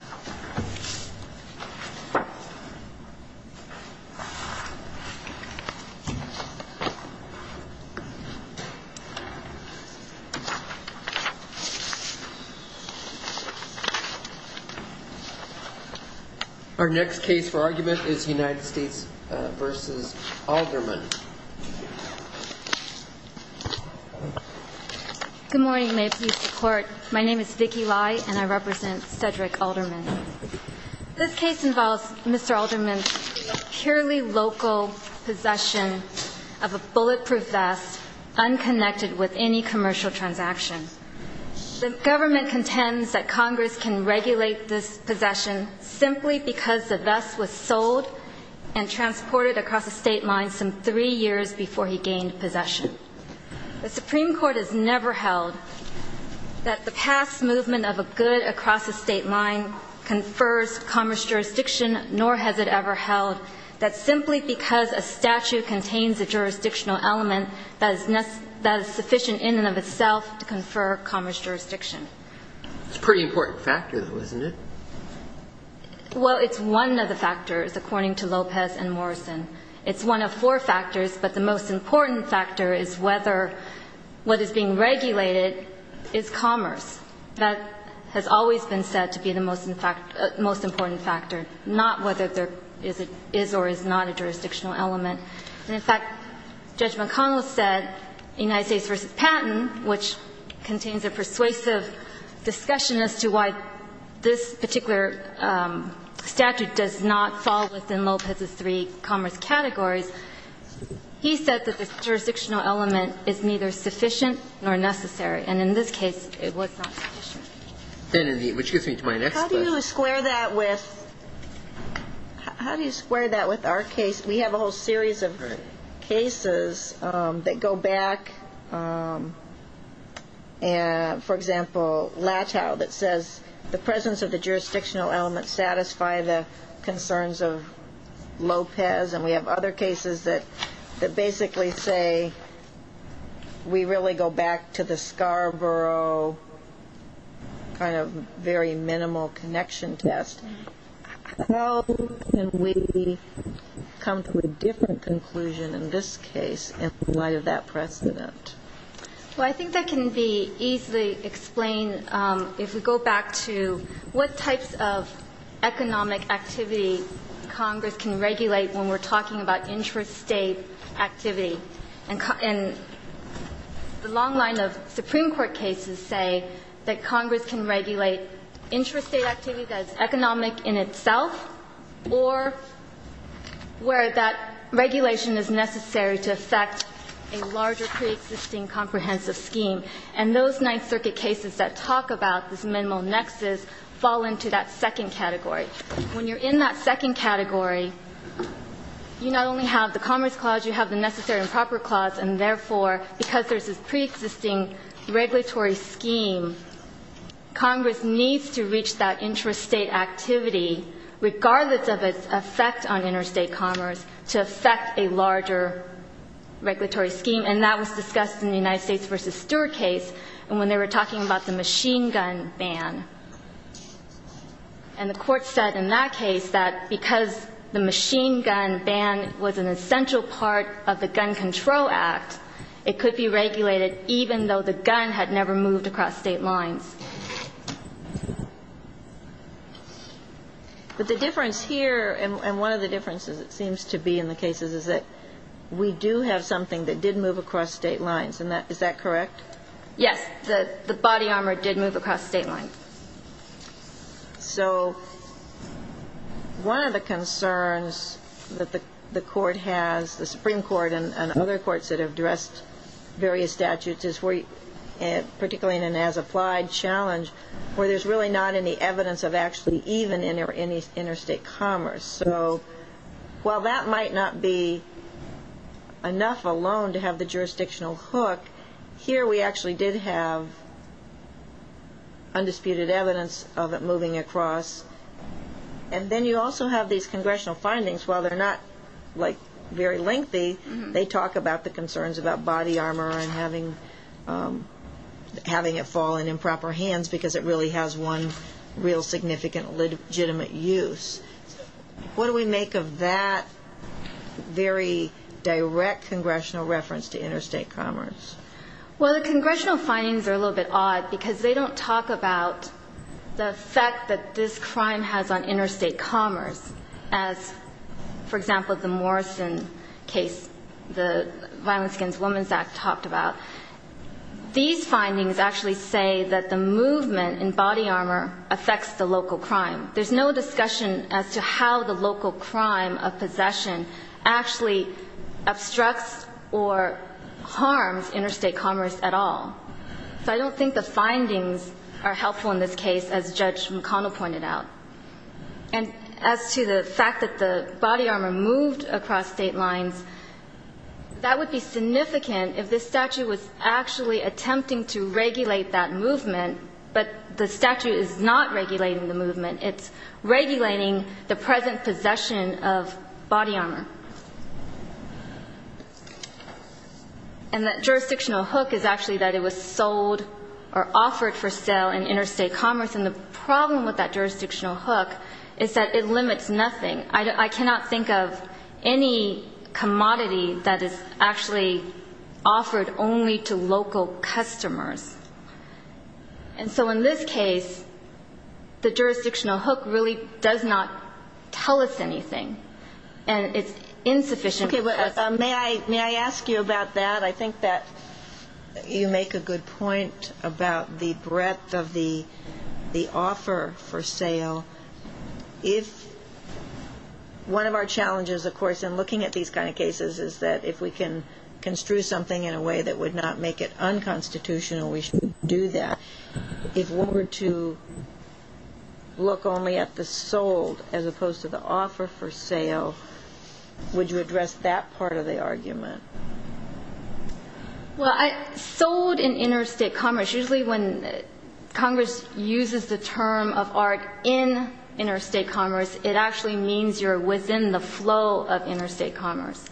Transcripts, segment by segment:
Good morning. May it please the Court, my name is Vicky Lai and I represent Cedric Alderman. This case involves Mr. Alderman's purely local possession of a bulletproof vest unconnected with any commercial transaction. The government contends that Congress can regulate this possession simply because the vest was sold and transported across a state line some three years before he gained possession. The Supreme Court has never held that the past movement of a good across a state line confers commerce jurisdiction, nor has it ever held that simply because a statute contains a jurisdictional element that is sufficient in and of itself to confer commerce jurisdiction. It's a pretty important factor, though, isn't it? Well, it's one of the factors, according to Lopez and Morrison. It's one of four factors, but the most important factor is whether what is being regulated is commerce. That has always been said to be the most important factor, not whether there is or is not a jurisdictional element. And, in fact, Judge McConnell said, United States v. Patent, which contains a persuasive discussion as to why this particular statute does not fall within Lopez's three commerce categories, he said that the jurisdictional element is neither sufficient nor necessary. And in this case, it was not sufficient. Then in the ‑‑ which gets me to my next question. How do you square that with ‑‑ how do you square that with our case? We have a whole series of cases that go back, for example, Latow, that says the presence of the jurisdictional element satisfied the concerns of Lopez, and we have other cases that basically say we really go back to the Scarborough kind of very minimal connection test. How can we come to a different conclusion in this case in light of that precedent? Well, I think that can be easily explained if we go back to what types of economic activity Congress can regulate when we're talking about intrastate activity. And the long line of Supreme Court cases say that Congress can regulate intrastate activity that is economic in itself or where that regulation is necessary to affect a larger preexisting comprehensive scheme. And those Ninth Circuit cases that talk about this minimal nexus fall into that second category. When you're in that second category, you not only have the Commerce Clause, you have the Necessary and Proper Clause, and therefore, because there's this preexisting regulatory scheme, Congress needs to reach that intrastate activity, regardless of its effect on interstate commerce, to affect a larger regulatory scheme. And that was discussed in the United States v. Stewart case when they were talking about the machine gun ban. And the Court said in that case that because the machine gun ban was an essential part of the Gun Control Act, it could be regulated even though the gun had never moved across state lines. But the difference here, and one of the differences it seems to be in the cases, is that we do have something that did move across state lines. Is that correct? Yes. The body armor did move across state lines. So one of the concerns that the Court has, the Supreme Court and other courts that have addressed various statutes, particularly in an as-applied challenge, where there's really not any evidence of actually even interstate commerce. So while that might not be enough alone to have the jurisdictional hook, here we actually did have undisputed evidence of it moving across. And then you also have these concerns about body armor and having it fall in improper hands because it really has one real significant legitimate use. What do we make of that very direct congressional reference to interstate commerce? Well, the congressional findings are a little bit odd because they don't talk about the effect that this crime has on interstate commerce as, for example, the Morrison case, the Violence Against Women Act talked about. These findings actually say that the movement in body armor affects the local crime. There's no discussion as to how the local crime of possession actually obstructs or harms interstate commerce at all. So I don't think the findings are helpful in this case, as Judge McConnell pointed out. And as to the fact that the body armor moved across State lines, that would be significant if this statute was actually attempting to regulate that movement, but the statute is not regulating the movement. It's regulating the present possession of body armor. And that jurisdictional hook is actually that it was sold or offered for sale in interstate commerce, and the problem with that jurisdictional hook is that it limits nothing. I cannot think of any commodity that is actually offered only to local customers. And so in this case, the jurisdictional hook really does not tell us anything, and it's insufficient. May I ask you about that? I think that you make a good point about the breadth of the offer for sale. If one of our challenges, of course, in looking at these kind of cases is that if we can construe something in a way that would not make it unconstitutional, we should do that. If we were to look only at the sold as opposed to the offer for sale, would you address that part of the argument? Well, sold in interstate commerce, usually when Congress uses the term of art in interstate commerce, it actually means you're within the flow of interstate commerce.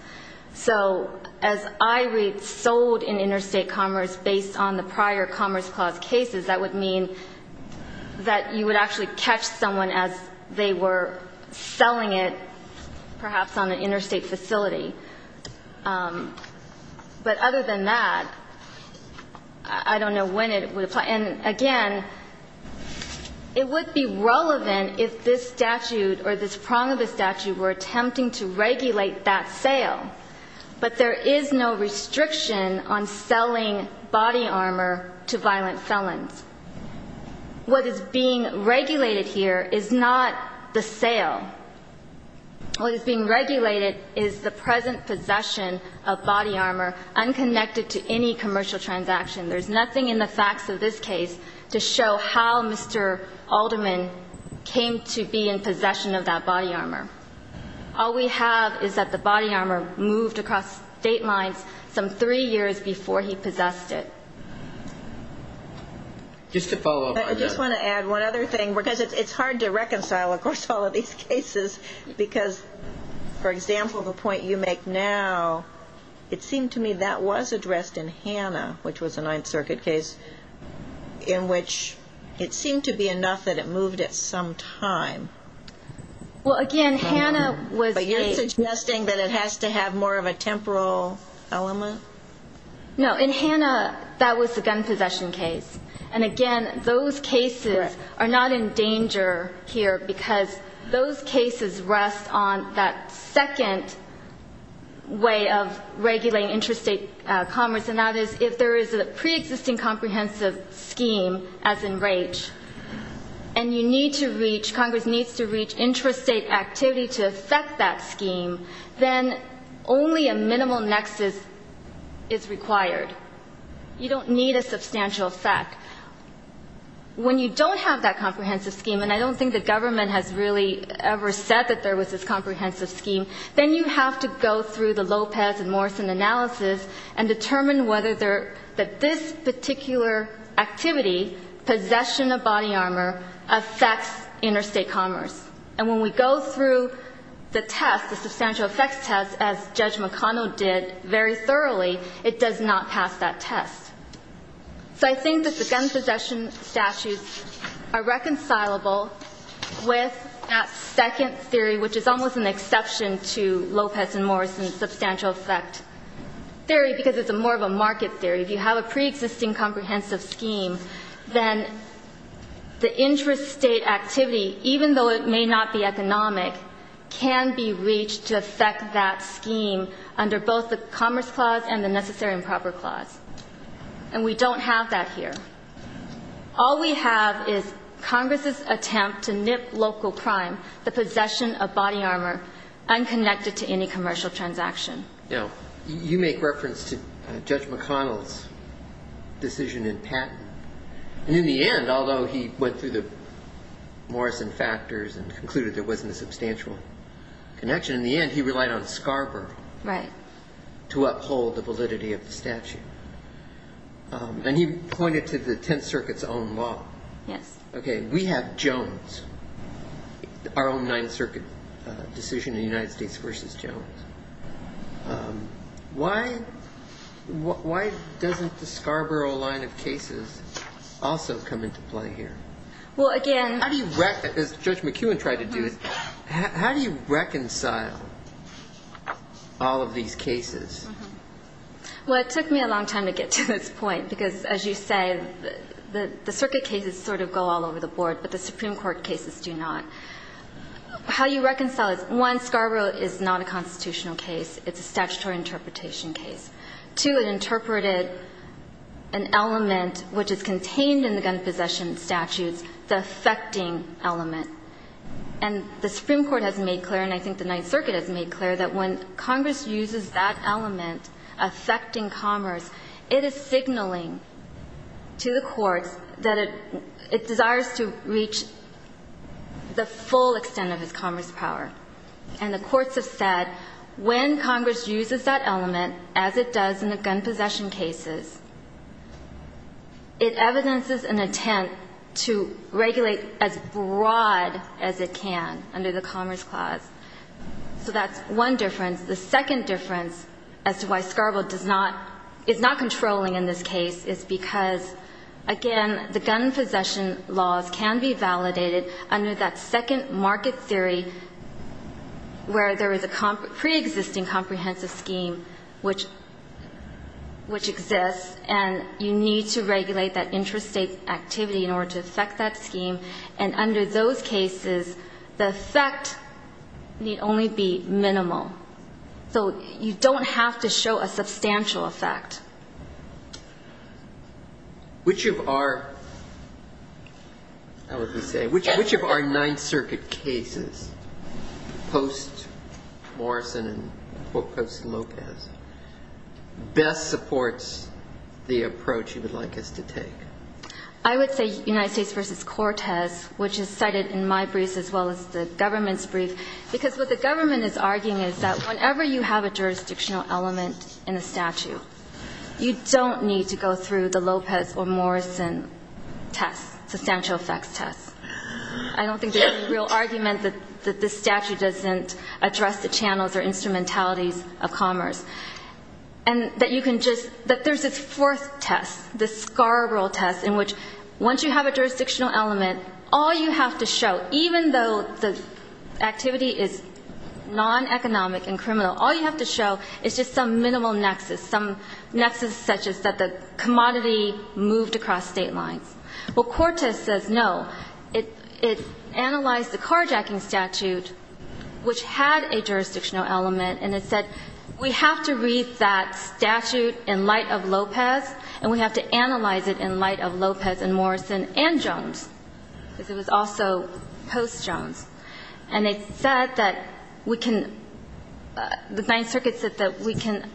So as I read sold in interstate commerce based on the prior Commerce Clause cases, that would mean that you would actually catch someone as they were selling it, but other than that, I don't know when it would apply. And again, it would be relevant if this statute or this prong of the statute were attempting to regulate that sale, but there is no restriction on selling body armor to violent felons. What is being regulated here is not the sale. What is being regulated is the present possession of body armor unconnected to any commercial transaction. There's nothing in the facts of this case to show how Mr. Alderman came to be in possession of that body armor. All we have is that the body armor moved across state lines some three years before he possessed it. Just to follow up on that. And one other thing, because it's hard to reconcile, of course, all of these cases, because, for example, the point you make now, it seemed to me that was addressed in Hannah, which was a Ninth Circuit case, in which it seemed to be enough that it moved at some time. But you're suggesting that it has to have more of a temporal element? No. In Hannah, that was the gun possession case. And, again, those cases are not in danger here because those cases rest on that second way of regulating interstate commerce, and that is if there is a preexisting comprehensive scheme, as in Raich, and you need to reach, Congress needs to reach interstate activity to affect that scheme, then only a minimal nexus is required. You don't need a substantial effect. When you don't have that comprehensive scheme, and I don't think the government has really ever said that there was this comprehensive scheme, then you have to go through the Lopez and Morrison analysis and determine whether this particular activity, possession of body armor, affects interstate commerce. And when we go through the test, the substantial effects test, as Judge McConnell did very thoroughly, it does not pass that test. So I think that the gun possession statutes are reconcilable with that second theory, which is almost an exception to Lopez and Morrison's substantial effect theory because it's more of a market theory. If you have a preexisting comprehensive scheme, then the interstate activity, even though it may not be economic, can be reached to affect that scheme under both the Commerce Clause and the Necessary and Proper Clause. And we don't have that here. All we have is Congress's attempt to nip local prime, the possession of body armor, unconnected to any commercial transaction. Now, you make reference to Judge McConnell's decision in Patton. And in the end, although he went through the Morrison factors and concluded there wasn't a substantial connection, in the end he relied on Scarborough to uphold the validity of the statute. And he pointed to the Tenth Circuit's own law. Okay, we have Jones, our own Ninth Circuit decision in the United States versus Jones. Why doesn't the Scarborough line of cases also come into play here? Well, again... How do you reconcile, as Judge McEwen tried to do, how do you reconcile all of these cases? Well, it took me a long time to get to this point because, as you say, the circuit cases sort of go all over the board, but the Supreme Court cases do not. How do you reconcile this? One, Scarborough is not a constitutional case. It's a statutory interpretation case. Two, it interpreted an element which is contained in the gun possession statutes, the affecting element. And the Supreme Court has made clear, and I think the Ninth Circuit has made clear, that when Congress uses that element, affecting commerce, it is signaling to the courts that it desires to reach the full extent of its commerce power. And the courts have said when Congress uses that element, as it does in the gun possession cases, it evidences an attempt to regulate as broad as it can under the Commerce Clause. So that's one difference. The second difference as to why Scarborough does not, is not controlling in this case, is because, again, the gun possession laws can be validated under that second market theory where there is a preexisting comprehensive scheme which exists, and you need to regulate that intrastate activity in order to affect that scheme. And under those cases, the effect need only be minimal. So you don't have to show a substantial effect. Which of our, how would we say, which of our Ninth Circuit cases, post-Morrison and post-Lopez, best supports the approach you would like us to take? I would say United States v. Cortez, which is cited in my brief as well as the government's brief, because what the government is arguing is that whenever you have a jurisdictional element in a statute, you don't need to go through the Lopez or Morrison test, substantial effects test. I don't think there's any real argument that this statute doesn't address the channels or instrumentalities of commerce. And that you can just, that there's this fourth test, this Scarborough test, in which once you have a jurisdictional element, all you have to show, even though the activity is non-economic and criminal, all you have to show is just some minimal nexus, some nexus such as that the commodity moved across state lines. Well, Cortez says no. It analyzed the carjacking statute, which had a jurisdictional element, and it said we have to read that statute in light of Lopez, and we have to analyze it in light of Lopez and Morrison and Jones, because it was also post-Jones. And it said that we can, the Ninth Circuit said that we can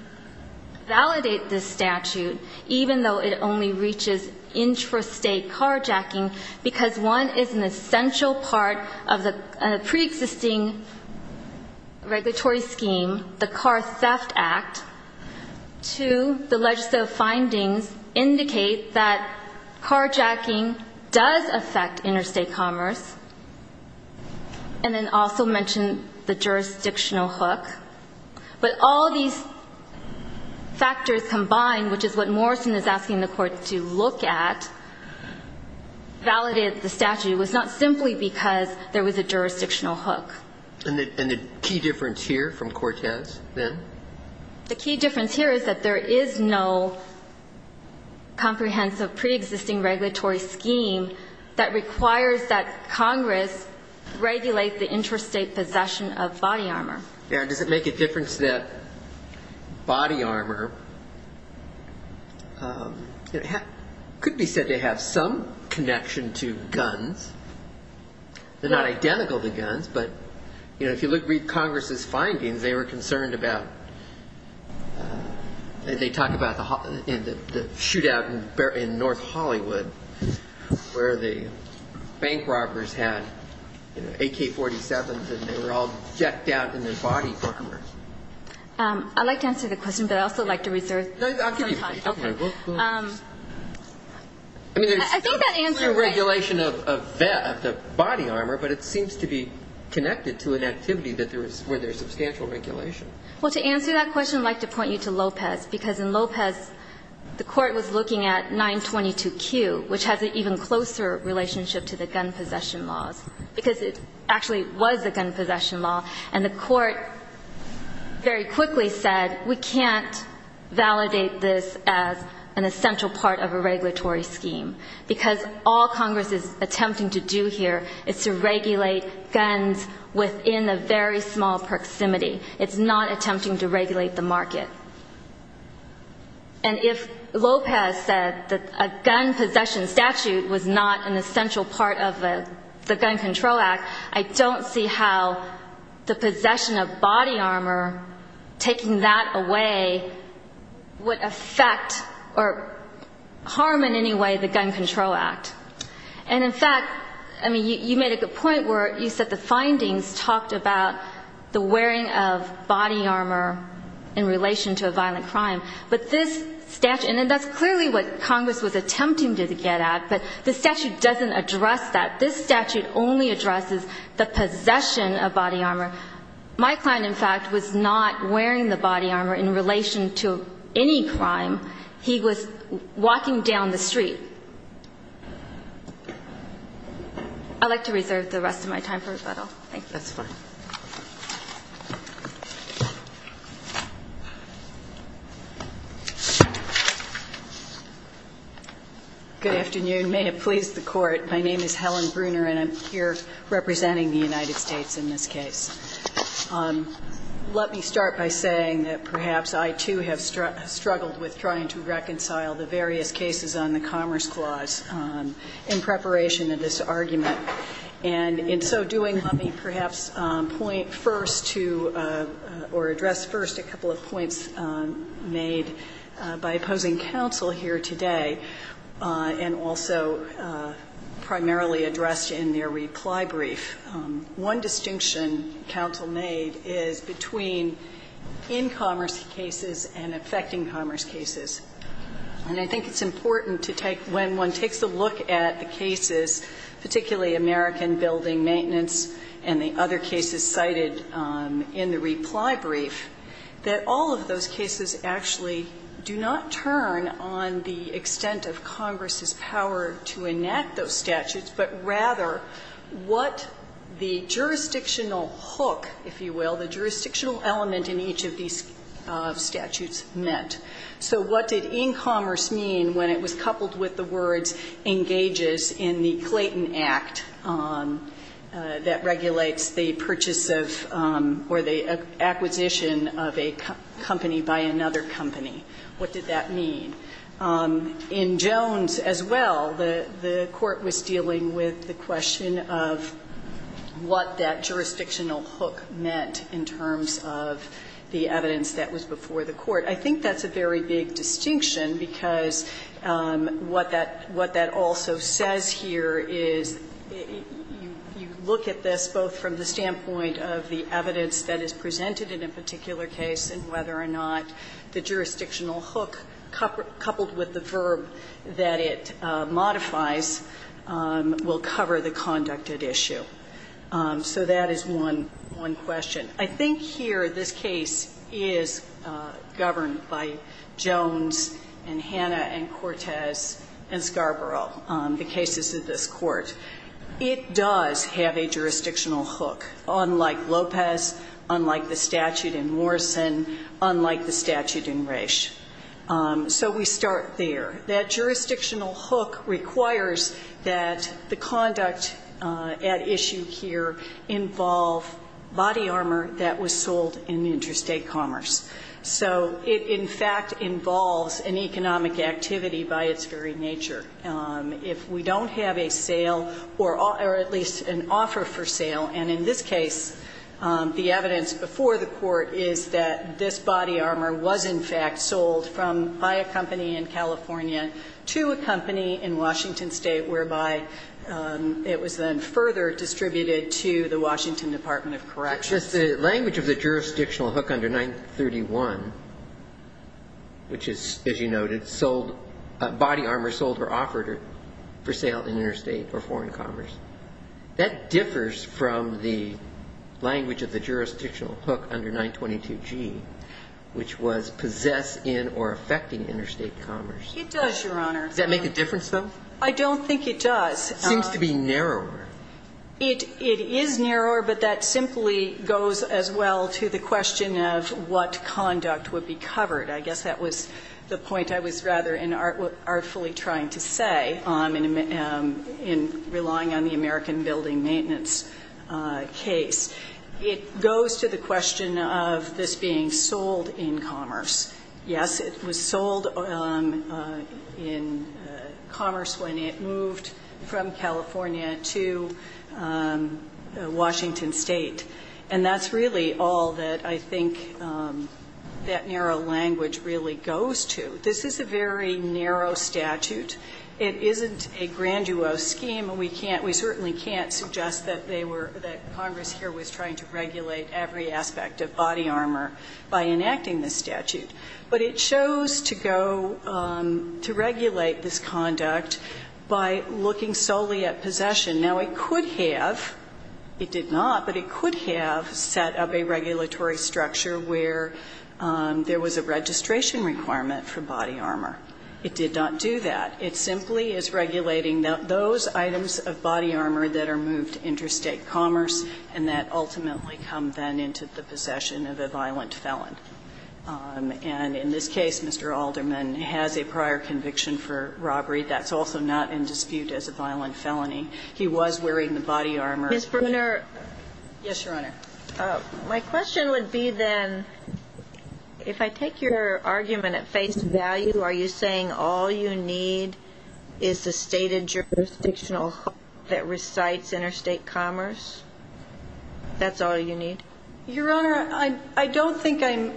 validate this statute, even though it only reaches intrastate carjacking, because one is an essential part of the preexisting regulatory scheme, the Car Theft Act. Two, the legislative findings indicate that carjacking does affect interstate commerce, and then also mention the jurisdictional hook. But all these factors combined, which is what Morrison is asking the Court to look at, validated the statute. It was not simply because there was a jurisdictional hook. And the key difference here from Cortez, then? The key difference here is that there is no comprehensive preexisting regulatory scheme that requires that Congress regulate the interstate possession of body armor. Does it make a difference that body armor could be said to have some connection to guns? They're not identical to guns, but if you read Congress's findings, they were concerned about, they talk about the shootout in North Hollywood, where the bank robbers had AK-47s, and they were all decked out in their body armor. I'd like to answer the question, but I'd also like to reserve some time. No, I'll give you some time. Okay. I mean, there's a clear regulation of the body armor, but it seems to be connected to an activity where there's substantial regulation. Well, to answer that question, I'd like to point you to Lopez, because in Lopez the Court was looking at 922Q, which has an even closer relationship to the gun possession laws, because it actually was a gun possession law, and the Court very quickly said we can't validate this as an essential part of a regulatory scheme, because all Congress is attempting to do here is to regulate guns within a very small proximity. It's not attempting to regulate the market. And if Lopez said that a gun possession statute was not an essential part of the Gun Control Act, I don't see how the possession of body armor, taking that away, would affect or harm in any way the Gun Control Act. And, in fact, I mean, you made a good point where you said the findings talked about the wearing of body armor in relation to a violent crime. But this statute, and that's clearly what Congress was attempting to get at, but the statute doesn't address that. This statute only addresses the possession of body armor. My client, in fact, was not wearing the body armor in relation to any crime. He was walking down the street. I'd like to reserve the rest of my time for rebuttal. Thank you. That's fine. Good afternoon. May it please the Court. My name is Helen Bruner, and I'm here representing the United States in this case. Let me start by saying that perhaps I, too, have struggled with trying to reconcile the various cases on the Commerce Clause in preparation of this argument. And in so doing, let me perhaps point first to or address first a couple of points made by opposing counsel here today and also primarily addressed in their reply brief. One distinction counsel made is between in-commerce cases and affecting commerce cases. And I think it's important to take, when one takes a look at the cases, particularly American building maintenance and the other cases cited in the reply brief, that all of those cases actually do not turn on the extent of Congress's power to enact those statutes, but rather what the jurisdictional hook, if you will, the jurisdictional element in each of these statutes meant. So what did in-commerce mean when it was coupled with the words engages in the Clayton Act that regulates the purchase of or the acquisition of a company by another company? What did that mean? In Jones as well, the Court was dealing with the question of what that jurisdictional hook meant in terms of the evidence that was before the Court. I think that's a very big distinction, because what that also says here is you look at this both from the standpoint of the evidence that is presented in a particular case and whether or not the jurisdictional hook coupled with the verb that it modifies will cover the conduct at issue. So that is one question. I think here this case is governed by Jones and Hannah and Cortez and Scarborough, the cases of this Court. It does have a jurisdictional hook, unlike Lopez, unlike the statute in Morrison, unlike the statute in Resch. So we start there. That jurisdictional hook requires that the conduct at issue here involve body armor that was sold in interstate commerce. So it in fact involves an economic activity by its very nature. If we don't have a sale or at least an offer for sale, and in this case the evidence before the Court is that this body armor was in fact sold by a company in California to a company in Washington State, whereby it was then further distributed to the Washington Department of Corrections. The language of the jurisdictional hook under 931, which is, as you noted, body armor sold or offered for sale in interstate or foreign commerce, that differs from the language of the jurisdictional hook under 922G, which was possessed in or affecting interstate commerce. It does, Your Honor. Does that make a difference, though? I don't think it does. It seems to be narrower. It is narrower, but that simply goes as well to the question of what conduct would be covered. I guess that was the point I was rather artfully trying to say in relying on the American building maintenance case. It goes to the question of this being sold in commerce. Yes, it was sold in commerce when it moved from California to Washington State, and that's really all that I think that narrow language really goes to. This is a very narrow statute. It isn't a grandiose scheme, and we can't we certainly can't suggest that they were that Congress here was trying to regulate every aspect of body armor by enacting this statute. But it shows to go to regulate this conduct by looking solely at possession. Now, it could have, it did not, but it could have set up a regulatory structure where there was a registration requirement for body armor. It did not do that. It simply is regulating those items of body armor that are moved to interstate commerce and that ultimately come then into the possession of a violent felon. And in this case, Mr. Alderman has a prior conviction for robbery. That's also not in dispute as a violent felony. He was wearing the body armor. Ms. Bruner. Yes, Your Honor. My question would be then, if I take your argument at face value, are you saying all you need is the stated jurisdictional that recites interstate commerce? That's all you need? Your Honor, I don't think I'm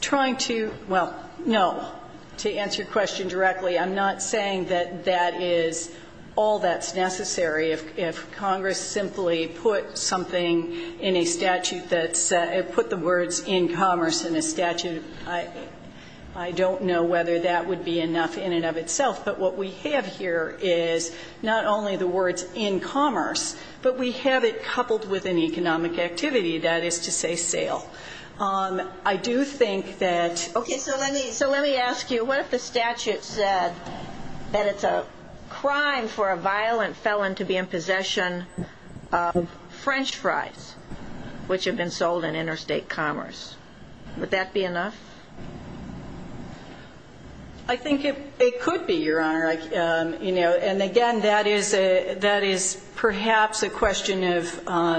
trying to, well, no, to answer your question directly. I'm not saying that that is all that's necessary. If Congress simply put something in a statute that's, put the words in commerce in a statute, I don't know whether that would be enough in and of itself. But what we have here is not only the words in commerce, but we have it coupled with an economic activity, that is to say, sale. I do think that. Okay, so let me ask you, what if the statute said that it's a crime for a violent felon to be in possession of French fries, which have been sold in interstate commerce? Would that be enough? I think it could be, Your Honor. You know, and again, that is a, that is perhaps a question of, how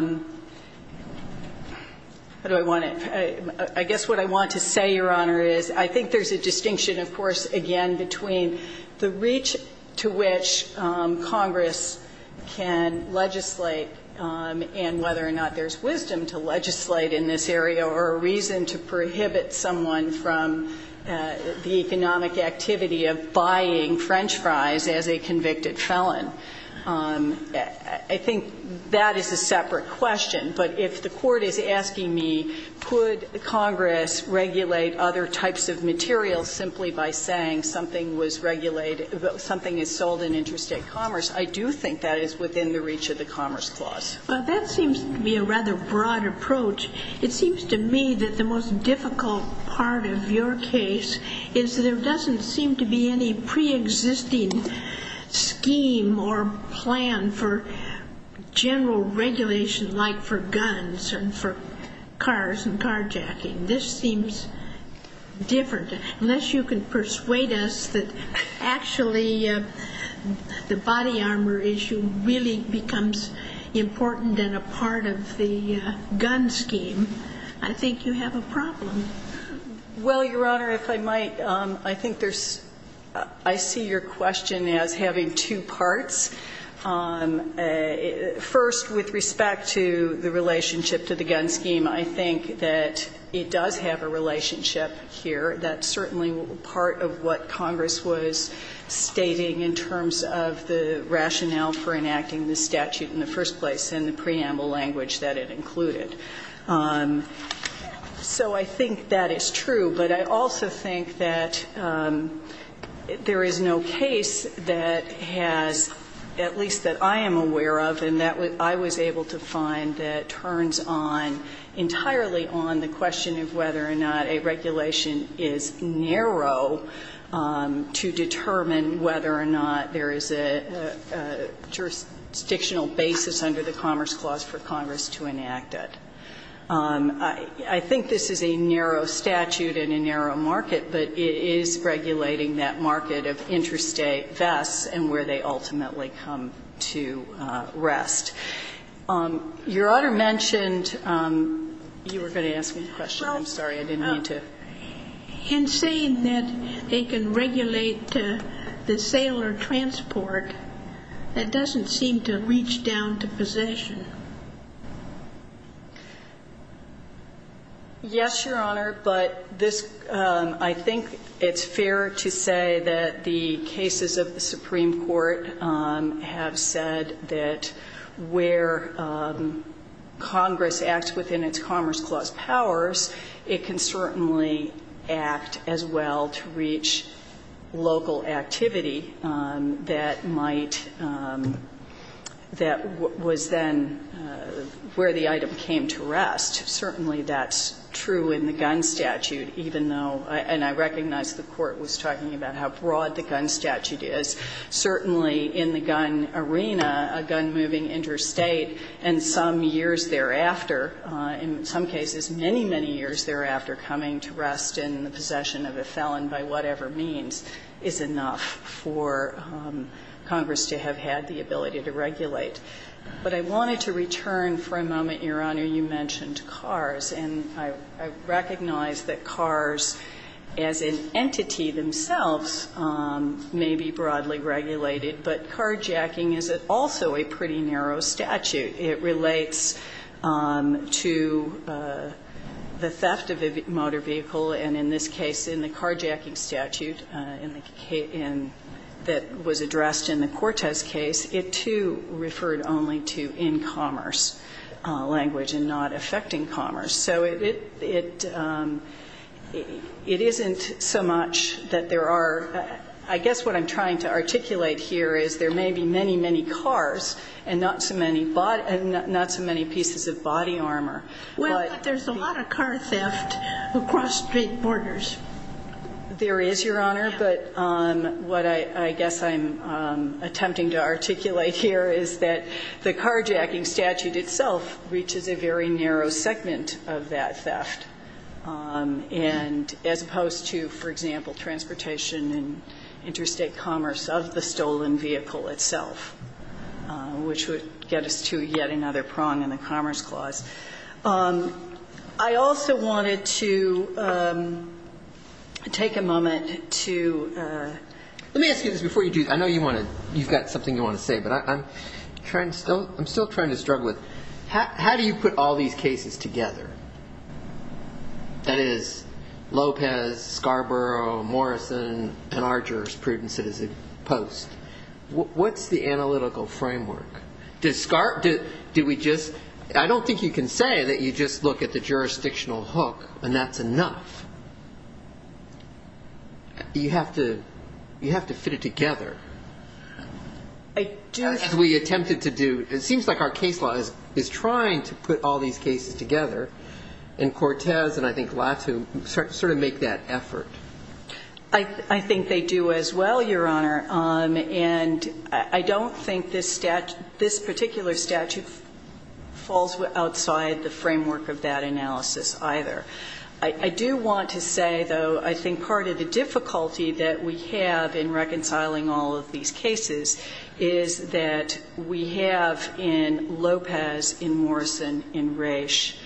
do I want to, I guess what I want to say, Your Honor, is I think there's a distinction, of course, again, between the reach to which Congress can legislate and whether or not there's wisdom to legislate in this area or a reason to prohibit someone from the economic activity of buying French fries as a convicted felon. I think that is a separate question, but if the court is asking me, could Congress regulate other types of materials simply by saying something was regulated, something is sold in interstate commerce, I do think that is within the reach of the Commerce Clause. Well, that seems to be a rather broad approach. It seems to me that the most difficult part of your case is there doesn't seem to be any preexisting scheme or plan for general regulation like for guns and for cars and carjacking. This seems different. Unless you can persuade us that actually the body armor issue really becomes important and a part of the gun scheme, I think you have a problem. Well, Your Honor, if I might, I think there's, I see your question as having two parts. First, with respect to the relationship to the gun scheme, I think that it does have a relationship here. That's certainly part of what Congress was stating in terms of the rationale for enacting the statute in the first place and the preamble language that it included. So I think that is true, but I also think that there is no case that has, at least that I am aware of and that I was able to find that turns on entirely on the question of whether or not a regulation is narrow to determine whether or not there is a jurisdictional basis under the Commerce Clause for Congress to enact it. I think this is a narrow statute and a narrow market, but it is regulating that market of interstate vests and where they ultimately come to rest. Your Honor mentioned you were going to ask me a question. I'm sorry. I didn't mean to. In saying that they can regulate the sale or transport, that doesn't seem to reach down to possession. Yes, Your Honor, but I think it's fair to say that the cases of the Supreme Court have said that where Congress acts within its Commerce Clause powers, it can certainly act as well to reach local activity that might, that was then where the item came to rest. Certainly that's true in the gun statute, even though, and I recognize the Court was talking about how broad the gun statute is. Certainly in the gun arena, a gun moving interstate and some years thereafter, in some cases many, many years thereafter, coming to rest in the possession of a felon by whatever means is enough for Congress to have had the ability to regulate. But I wanted to return for a moment, Your Honor, you mentioned cars, and I recognize that cars as an entity themselves may be broadly regulated, but carjacking is also a pretty narrow statute. It relates to the theft of a motor vehicle, and in this case, in the carjacking statute that was addressed in the Cortez case, it too referred only to in commerce language and not affecting commerce. So it isn't so much that there are, I guess what I'm trying to articulate here is there may be many, many cars and not so many pieces of body armor. Well, but there's a lot of car theft across state borders. There is, Your Honor, but what I guess I'm attempting to articulate here is that the carjacking statute itself reaches a very narrow segment of that theft, and as opposed to, for example, transportation and interstate commerce of the stolen vehicle itself, which would get us to yet another prong in the Commerce Clause. I also wanted to take a moment to ---- Let me ask you this before you do this. I know you've got something you want to say, but I'm still trying to struggle with how do you put all these cases together? That is, Lopez, Scarborough, Morrison, and our jurisprudence as a post. What's the analytical framework? I don't think you can say that you just look at the jurisdictional hook and that's enough. You have to fit it together. I do. As we attempted to do. It seems like our case law is trying to put all these cases together, and Cortez and I think Latu sort of make that effort. I think they do as well, Your Honor, and I don't think this particular statute falls outside the framework of that analysis either. I do want to say, though, I think part of the difficulty that we have in reconciling all of these cases is that we have in Lopez, in Morrison, in Raich,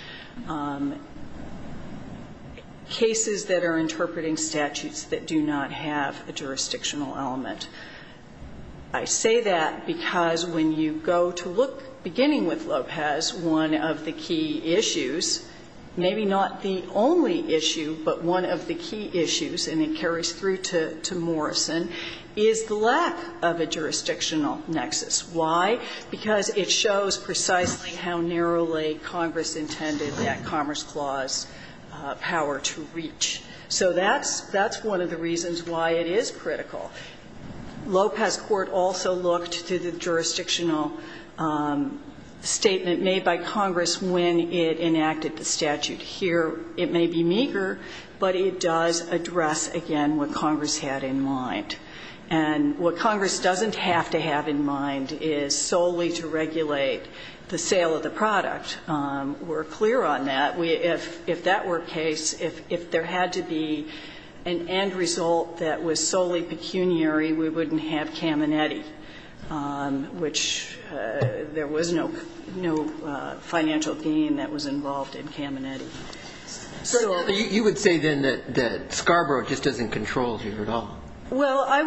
cases that are interpreting statutes that do not have a jurisdictional element. I say that because when you go to look, beginning with Lopez, one of the key issues, maybe not the only issue, but one of the key issues, and it carries through to Morrison, is the lack of a jurisdictional nexus. Why? Because it shows precisely how narrowly Congress intended that Commerce Clause power to reach. So that's one of the reasons why it is critical. Lopez Court also looked to the jurisdictional statement made by Congress when it enacted the statute. Here it may be meager, but it does address, again, what Congress had in mind. And what Congress doesn't have to have in mind is solely to regulate the sale of the product. We're clear on that. If that were the case, if there had to be an end result that was solely pecuniary, we wouldn't have Caminiti, which there was no financial gain that was involved in Caminiti. So you would say, then, that Scarborough just doesn't control here at all? Well, I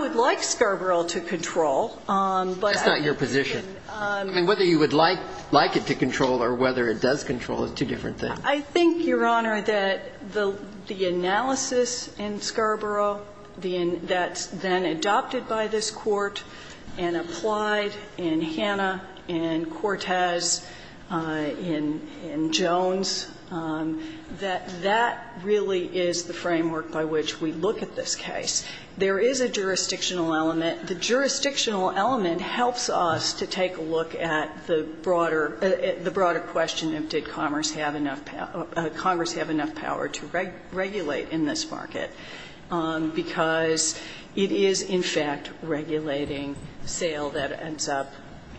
would like Scarborough to control. That's not your position. I mean, whether you would like it to control or whether it does control is two different things. I think, Your Honor, that the analysis in Scarborough that's then adopted by this Court and applied in Hannah and Cortez and Jones, that that really is the framework by which we look at this case. There is a jurisdictional element. The jurisdictional element helps us to take a look at the broader question of did Congress have enough power to regulate in this market, because it is, in fact, regulating sale that ends up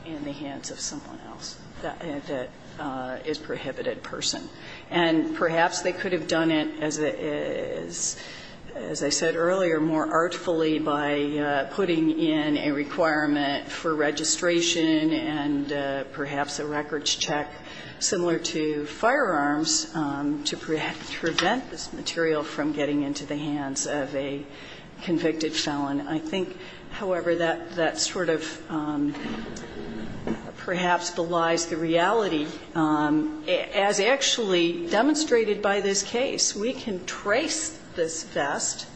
in the hands of someone else that is a prohibited person. And perhaps they could have done it, as I said earlier, more artfully by putting in a requirement for registration and perhaps a records check similar to firearms to prevent this material from getting into the hands of a convicted felon. I think, however, that that sort of perhaps belies the reality. As actually demonstrated by this case, we can trace this vest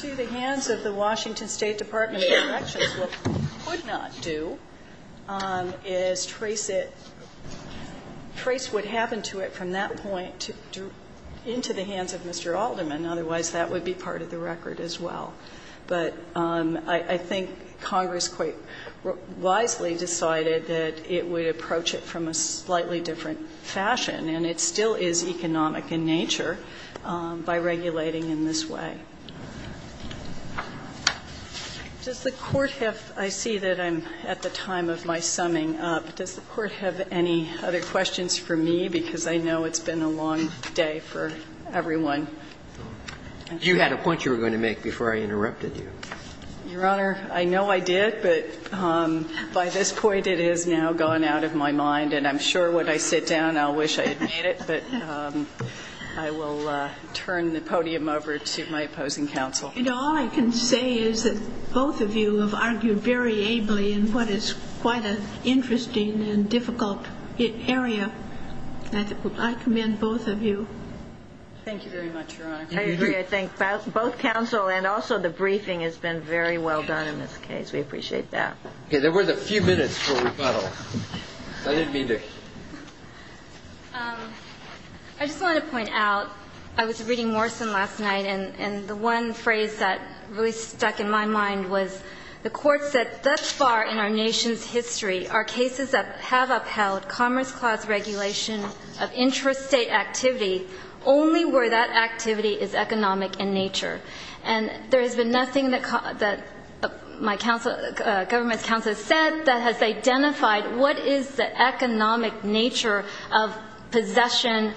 to the hands of the Washington State Department of Corrections. What we could not do is trace it, trace what happened to it from that point into the hands of Mr. Alderman. Otherwise, that would be part of the record as well. But I think Congress quite wisely decided that it would approach it from a slightly different fashion, and it still is economic in nature by regulating in this way. Does the Court have – I see that I'm at the time of my summing up. Does the Court have any other questions for me? Because I know it's been a long day for everyone. You had a point you were going to make before I interrupted you. Your Honor, I know I did, but by this point it has now gone out of my mind, and I'm sure when I sit down I'll wish I had made it. But I will turn the podium over to my opposing counsel. You know, all I can say is that both of you have argued very ably in what is quite an interesting and difficult area. I commend both of you. Thank you very much, Your Honor. I agree. I think both counsel and also the briefing has been very well done in this case. We appreciate that. There was a few minutes for rebuttal. I didn't mean to. I just want to point out, I was reading Morrison last night, and the one phrase that really stuck in my mind was, the Court said, Thus far in our nation's history are cases that have upheld Commerce Clause regulation of intrastate activity only where that activity is economic in nature. And there has been nothing that my government's counsel has said that has identified what is the economic nature of possession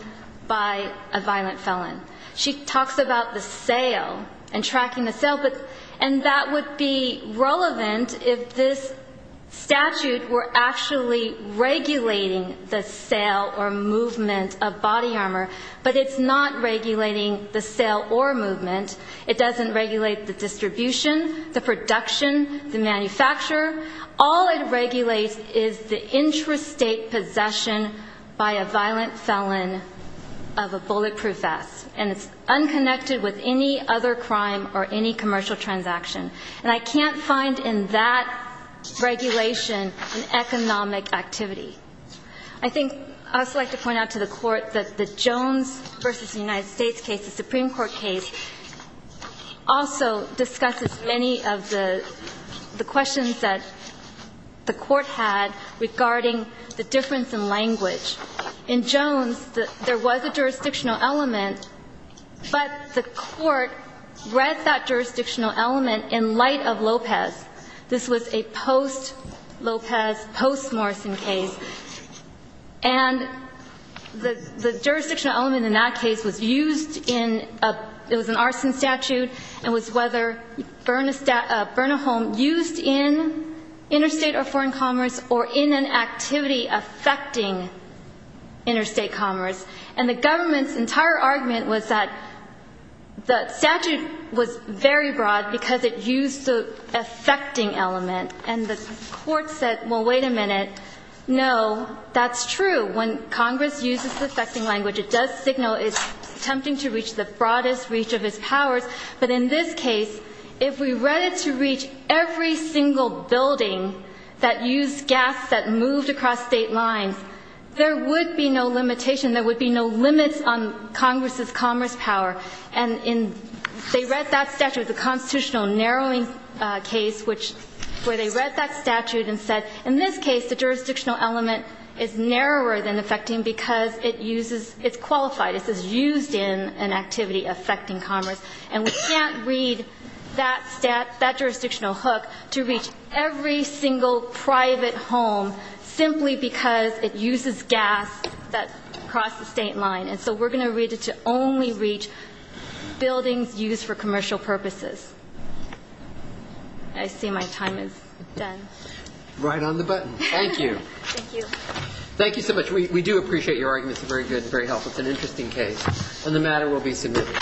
by a violent felon. She talks about the sale and tracking the sale, and that would be relevant if this was a sale or movement of body armor, but it's not regulating the sale or movement. It doesn't regulate the distribution, the production, the manufacturer. All it regulates is the intrastate possession by a violent felon of a bulletproof vest, and it's unconnected with any other crime or any commercial transaction. And I can't find in that regulation an economic activity. I think I'd also like to point out to the Court that the Jones v. United States case, the Supreme Court case, also discusses many of the questions that the Court had regarding the difference in language. In Jones, there was a jurisdictional element, but the Court read that jurisdictional element in light of Lopez. This was a post-Lopez, post-Morrison case. And the jurisdictional element in that case was used in a – it was an arson statute and was whether Bernahom used in interstate or foreign commerce or in an activity affecting interstate commerce. And the government's entire argument was that the statute was very broad because it used the affecting element. And the Court said, well, wait a minute. No, that's true. When Congress uses the affecting language, it does signal it's attempting to reach the broadest reach of its powers. But in this case, if we read it to reach every single building that used gas that moved across State lines, there would be no limitation, there would be no limits on Congress's commerce power. And in – they read that statute, the constitutional narrowing case, which – where they read that statute and said, in this case, the jurisdictional element is narrower than affecting because it uses – it's qualified. This is used in an activity affecting commerce. And we can't read that jurisdictional hook to reach every single private home simply because it uses gas that crossed the State line. And so we're going to read it to only reach buildings used for commercial purposes. I see my time is done. Right on the button. Thank you. Thank you. Thank you so much. We do appreciate your arguments. They're very good and very helpful. It's an interesting case. And the matter will be submitted.